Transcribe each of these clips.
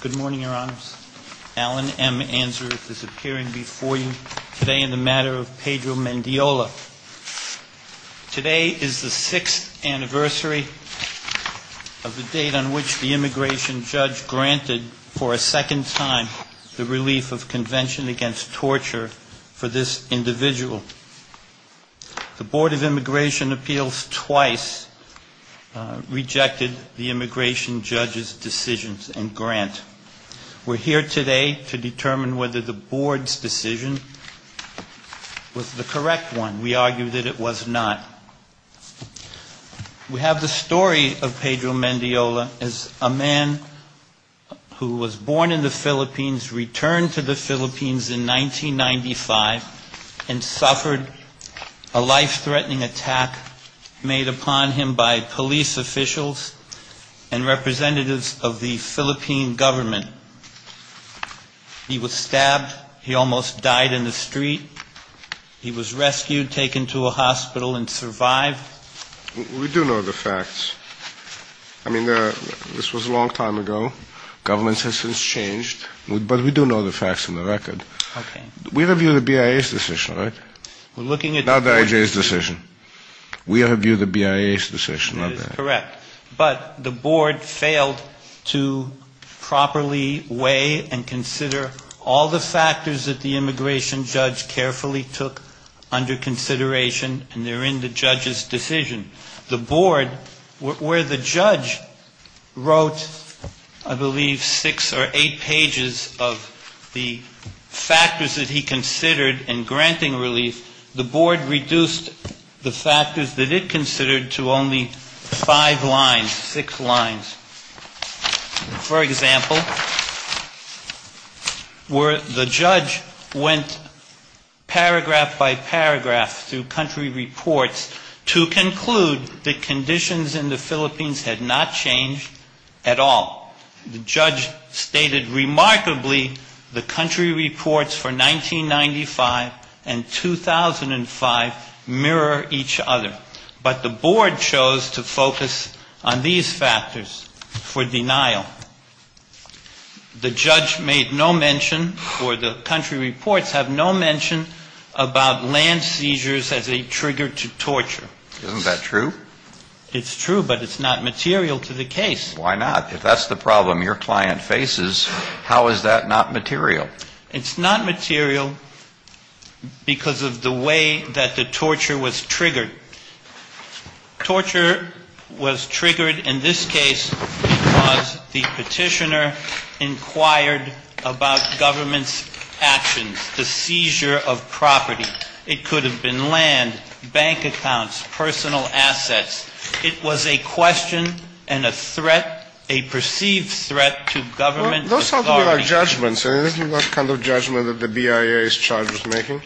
Good morning, Your Honors. Alan M. Answorth is appearing before you today in the matter of Pedro Mendiola. Today is the sixth anniversary of the date on which the immigration judge granted for a second time the relief of Convention Against Torture for this individual. The Board of Immigration Appeals twice rejected the immigration judge's decisions and grant. We're here today to determine whether the Board's decision was the correct one. We argue that it was not. We have the story of Pedro Mendiola as a man who was born in the Philippines, returned to the Philippines in 1995, and suffered a life-threatening attack made upon him by police officials and representatives of the Philippine government. He was stabbed. He almost died in the street. He was rescued, taken to a hospital and survived. We do know the facts. I mean, this was a long time ago. Government has since changed. But we do know the facts on the record. We review the BIA's decision, right? Not the IJ's decision. We review the BIA's decision, not the IJ's decision. That is correct. But the Board failed to properly weigh and consider all the factors that the immigration judge carefully took under consideration, and they're in the judge's decision. The Board, where the judge wrote, I believe, six or eight pages of the factors that he considered in granting relief, the Board reduced the factors that it considered to only five lines, six lines. For example, where the judge went paragraph by paragraph through country reports to conclude that conditions in the Philippines had not changed at all. The judge stated remarkably the country reports for 1995 and 2005 mirror each other. But the Board chose to focus on these factors for denial. The judge made no mention or the country reports have no mention about land seizures as a trigger to torture. Isn't that true? It's true, but it's not material to the case. Why not? If that's the problem your client faces, how is that not material? It's not material because of the way that the torture was triggered. Torture was triggered in this case because the petitioner inquired about government's actions, the seizure of property. It could have been land, bank accounts, personal assets. It was a question and a threat, a perceived threat to government authority. Those sound to me like judgments. And isn't that the kind of judgment that the BIA is charged with making?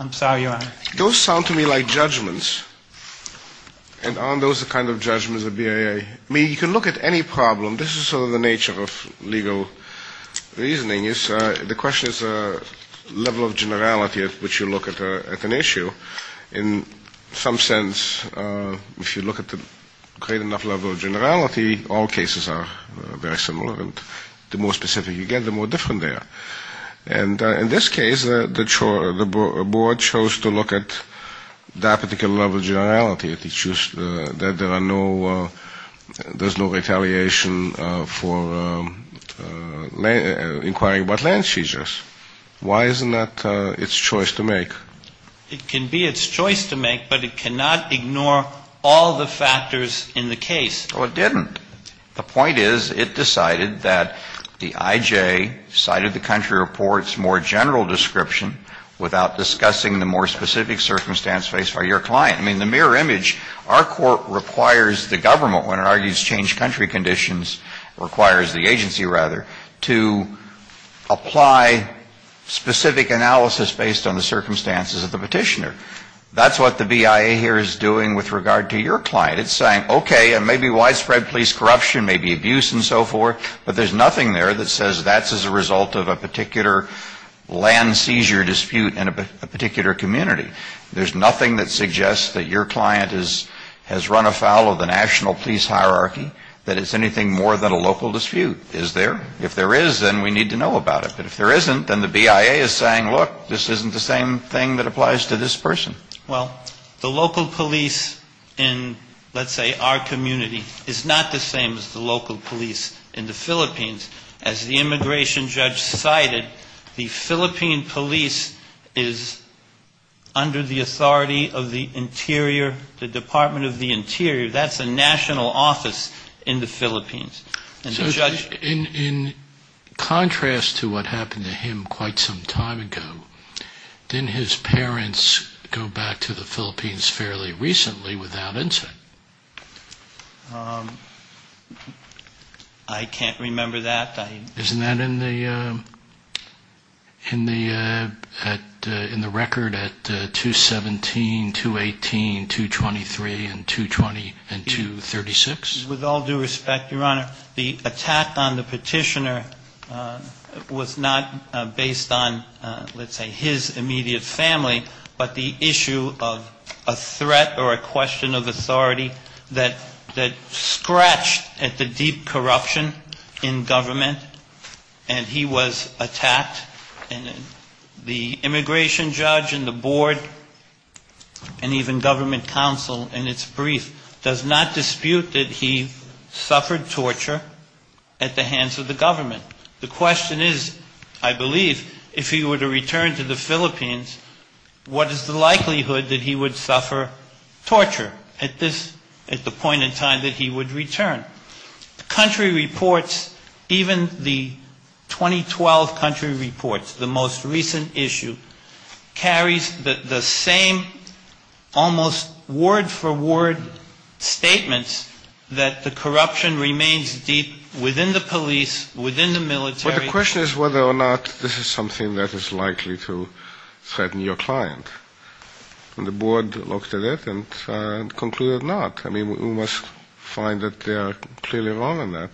I'm sorry, Your Honor. Those sound to me like judgments. And aren't those the kind of judgments the BIA? I mean, you can look at any problem. This is sort of the nature of legal reasoning. The question is the level of generality at which you look at an issue. In some sense, if you look at the great enough level of generality, all cases are very similar. The more specific you get, the more different they are. And in this case, the Board chose to look at that particular level of generality. There's no retaliation for inquiring about land seizures. Why isn't that its choice to make? It can be its choice to make, but it cannot ignore all the factors in the case. Well, it didn't. The point is it decided that the IJ cited the country report's more general description without discussing the more specific circumstance faced by your client. I mean, the mirror image, our court requires the government, when it argues changed country conditions, requires the agency, rather, to apply specific analysis based on the circumstances of the petitioner. That's what the BIA here is doing with regard to your client. It's saying, okay, maybe widespread police corruption, maybe abuse and so forth, but there's nothing there that says that's as a result of a particular land seizure dispute in a particular community. There's nothing that suggests that your client has run afoul of the national police hierarchy, that it's anything more than a local dispute, is there? If there is, then we need to know about it. But if there isn't, then the BIA is saying, look, this isn't the same thing that applies to this person. Well, the local police in, let's say, our community, is not the same as the local police in the Philippines. As the immigration judge cited, the Philippine police is under the authority of the Interior, the Department of the Interior. That's a national office in the Philippines. And the judge... In contrast to what happened to him quite some time ago, didn't his parents go back to the Philippines fairly recently without incident? I can't remember that. Isn't that in the record at 217, 218, 223, and 236? With all due respect, Your Honor, the attack on the petitioner was not based on, let's say, his immediate family, but the issue of a threat or a question of authority that scratched at the deep corruption in government, and he was attacked. And the immigration judge and the board and even government counsel in its brief does not dispute that he was attacked. He suffered torture at the hands of the government. The question is, I believe, if he were to return to the Philippines, what is the likelihood that he would suffer torture at this, at the point in time that he would return? The country reports, even the 2012 country reports, the most recent issue, carries the same almost word-for-word statements that the Philippine government has. And that the corruption remains deep within the police, within the military. But the question is whether or not this is something that is likely to threaten your client. And the board looked at it and concluded not. I mean, we must find that they are clearly wrong in that.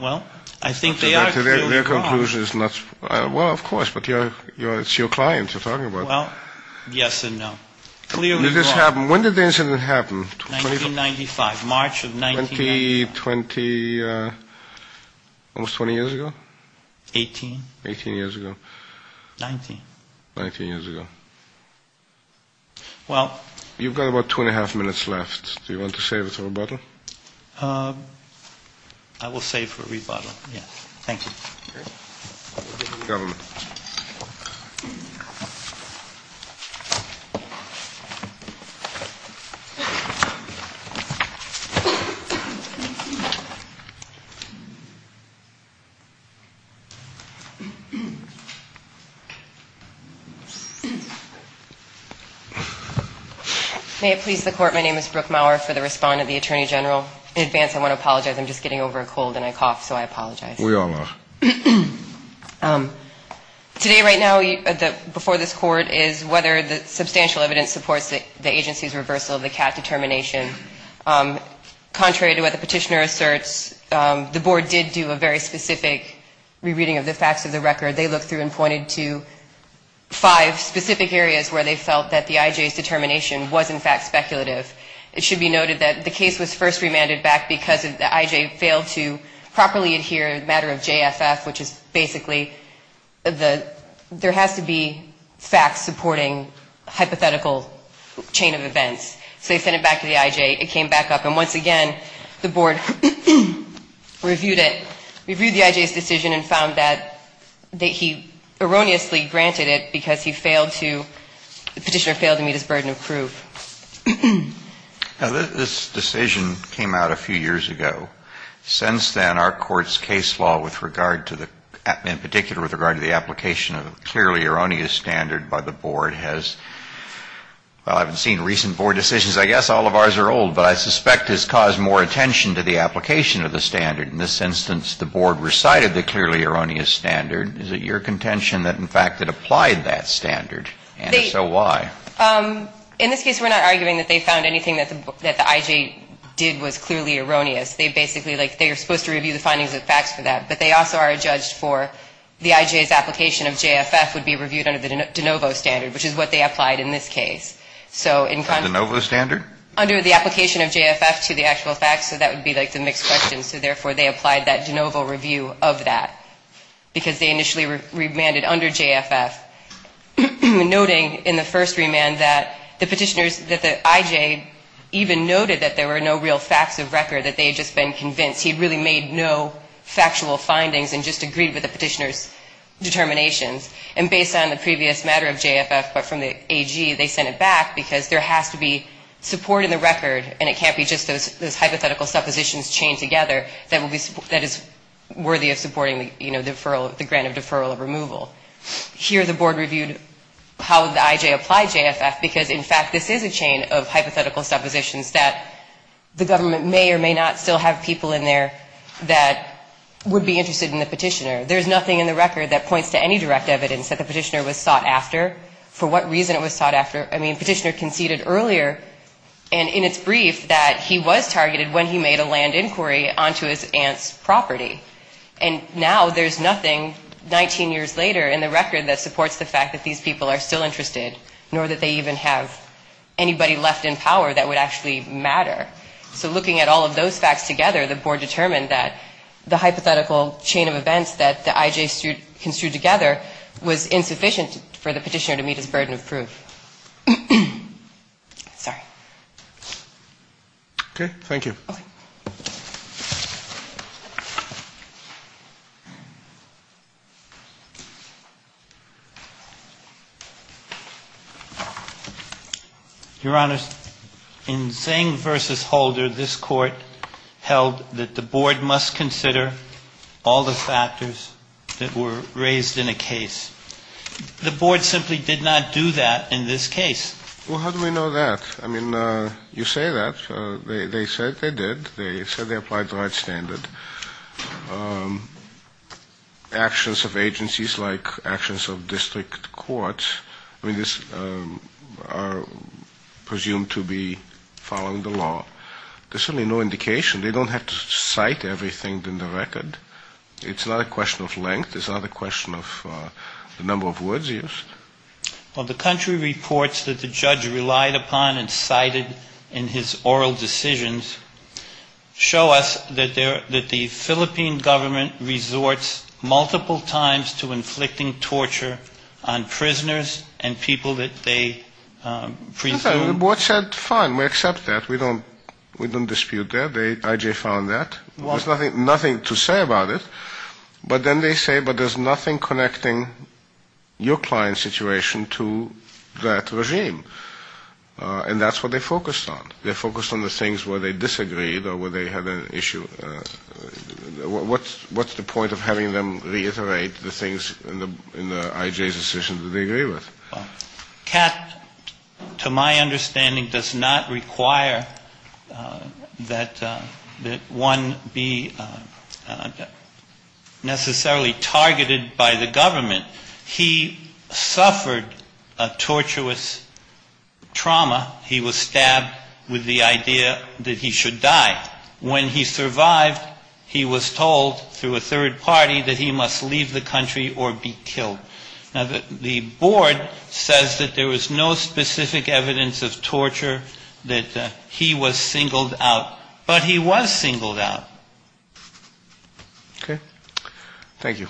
Well, I think they are clearly wrong. Well, of course, but it's your client you're talking about. Well, yes and no. Clearly wrong. When did this happen? 1995, March of 1995. Almost 20 years ago? 18. 19 years ago. You've got about two and a half minutes left. Do you want to save it for rebuttal? I will save for rebuttal, yes. Thank you. May it please the Court, my name is Brooke Maurer for the respondent, the Attorney General. In advance, I want to apologize. I'm just getting over a cold and I cough, so I apologize. We all are. Today, right now, before this Court, is whether the substantial evidence supports the agency's reversal of the CAT determination. Contrary to what the petitioner asserts, the board did do a very specific re-reading of the facts of the report. They looked through and pointed to five specific areas where they felt that the IJ's determination was in fact speculative. It should be noted that the case was first remanded back because the IJ failed to properly adhere to the matter of JFF, which is basically there has to be facts supporting a hypothetical chain of events. So they sent it back to the IJ, it came back up, and once again, the board reviewed it, reviewed the decision and found that he erroneously granted it because he failed to, the petitioner failed to meet his burden of proof. Now, this decision came out a few years ago. Since then, our Court's case law with regard to the, in particular with regard to the application of a clearly erroneous standard by the board has, well, I haven't seen recent board decisions, I guess all of ours are old, but I suspect has caused more attention to the application of the standard. In this instance, the board recited the clearly erroneous standard. Is it your contention that in fact it applied that standard, and if so, why? In this case, we're not arguing that they found anything that the IJ did was clearly erroneous. They basically, like, they are supposed to review the findings of facts for that, but they also are adjudged for the IJ's application of JFF would be reviewed under the de novo standard, which is what they applied in this case. De novo standard? Under the application of JFF to the actual facts, so that would be, like, the mixed question. So therefore, they applied that de novo review of that because they initially remanded under JFF, noting in the first remand that the petitioners, that the IJ even noted that there were no real facts of record, that they had just been convinced he had really made no factual findings and just agreed with the petitioner's determinations. And based on the previous matter of JFF, but from the AG, they sent it back because there has to be support in the record, and it can't be just those hypothetical suppositions chained together that is worthy of supporting, you know, the grant of deferral or removal. Here the board reviewed how the IJ applied JFF because, in fact, this is a chain of hypothetical suppositions that the government may or may not still have people in there that would be interested in the petitioner. There's nothing in the record that points to any direct evidence that the petitioner was sought after. For what reason it was sought after, I mean, the petitioner conceded earlier, and in its brief, that he was targeted when he made a land inquiry onto his aunt's property. And now there's nothing 19 years later in the record that supports the fact that these people are still interested, nor that they even have anybody left in power that would actually matter. So looking at all of those facts together, the board determined that the hypothetical chain of events that the IJ construed together was insufficient for the petitioner to meet his burden of proof. Sorry. Okay. Thank you. Your Honor, in Zeng v. Holder, this Court held that the board must consider all the factors that were raised in a case. The board simply did not do that in this case. Well, how do we know that? I mean, you say that. They said they did. They said they applied the right standard. Actions of agencies like actions of district courts, I mean, are presumed to be following the law. There's certainly no indication. They don't have to cite everything in the record. It's not a question of length. It's not a question of the number of words used. Well, the country reports that the judge relied upon and cited in his oral decisions show us that the Philippine government resorts multiple times to inflicting torture on prisoners and people that they presume. The board said, fine, we accept that. We don't dispute that. The IJ found that. There's nothing to say about it. But then they say, but there's nothing connecting your client's situation to that regime. And that's what they focused on. They focused on the things where they disagreed or where they had an issue. What's the point of having them reiterate the things in the IJ's decision that they agree with? Well, Kat, to my understanding, does not require that one be necessarily targeted by the government. He suffered a tortuous trauma. He was stabbed with the idea that he should die. When he survived, he was told through a third party that he must leave the country or be killed. Now, the board says that there was no specific evidence of torture, that he was singled out. But he was singled out. Okay. Thank you.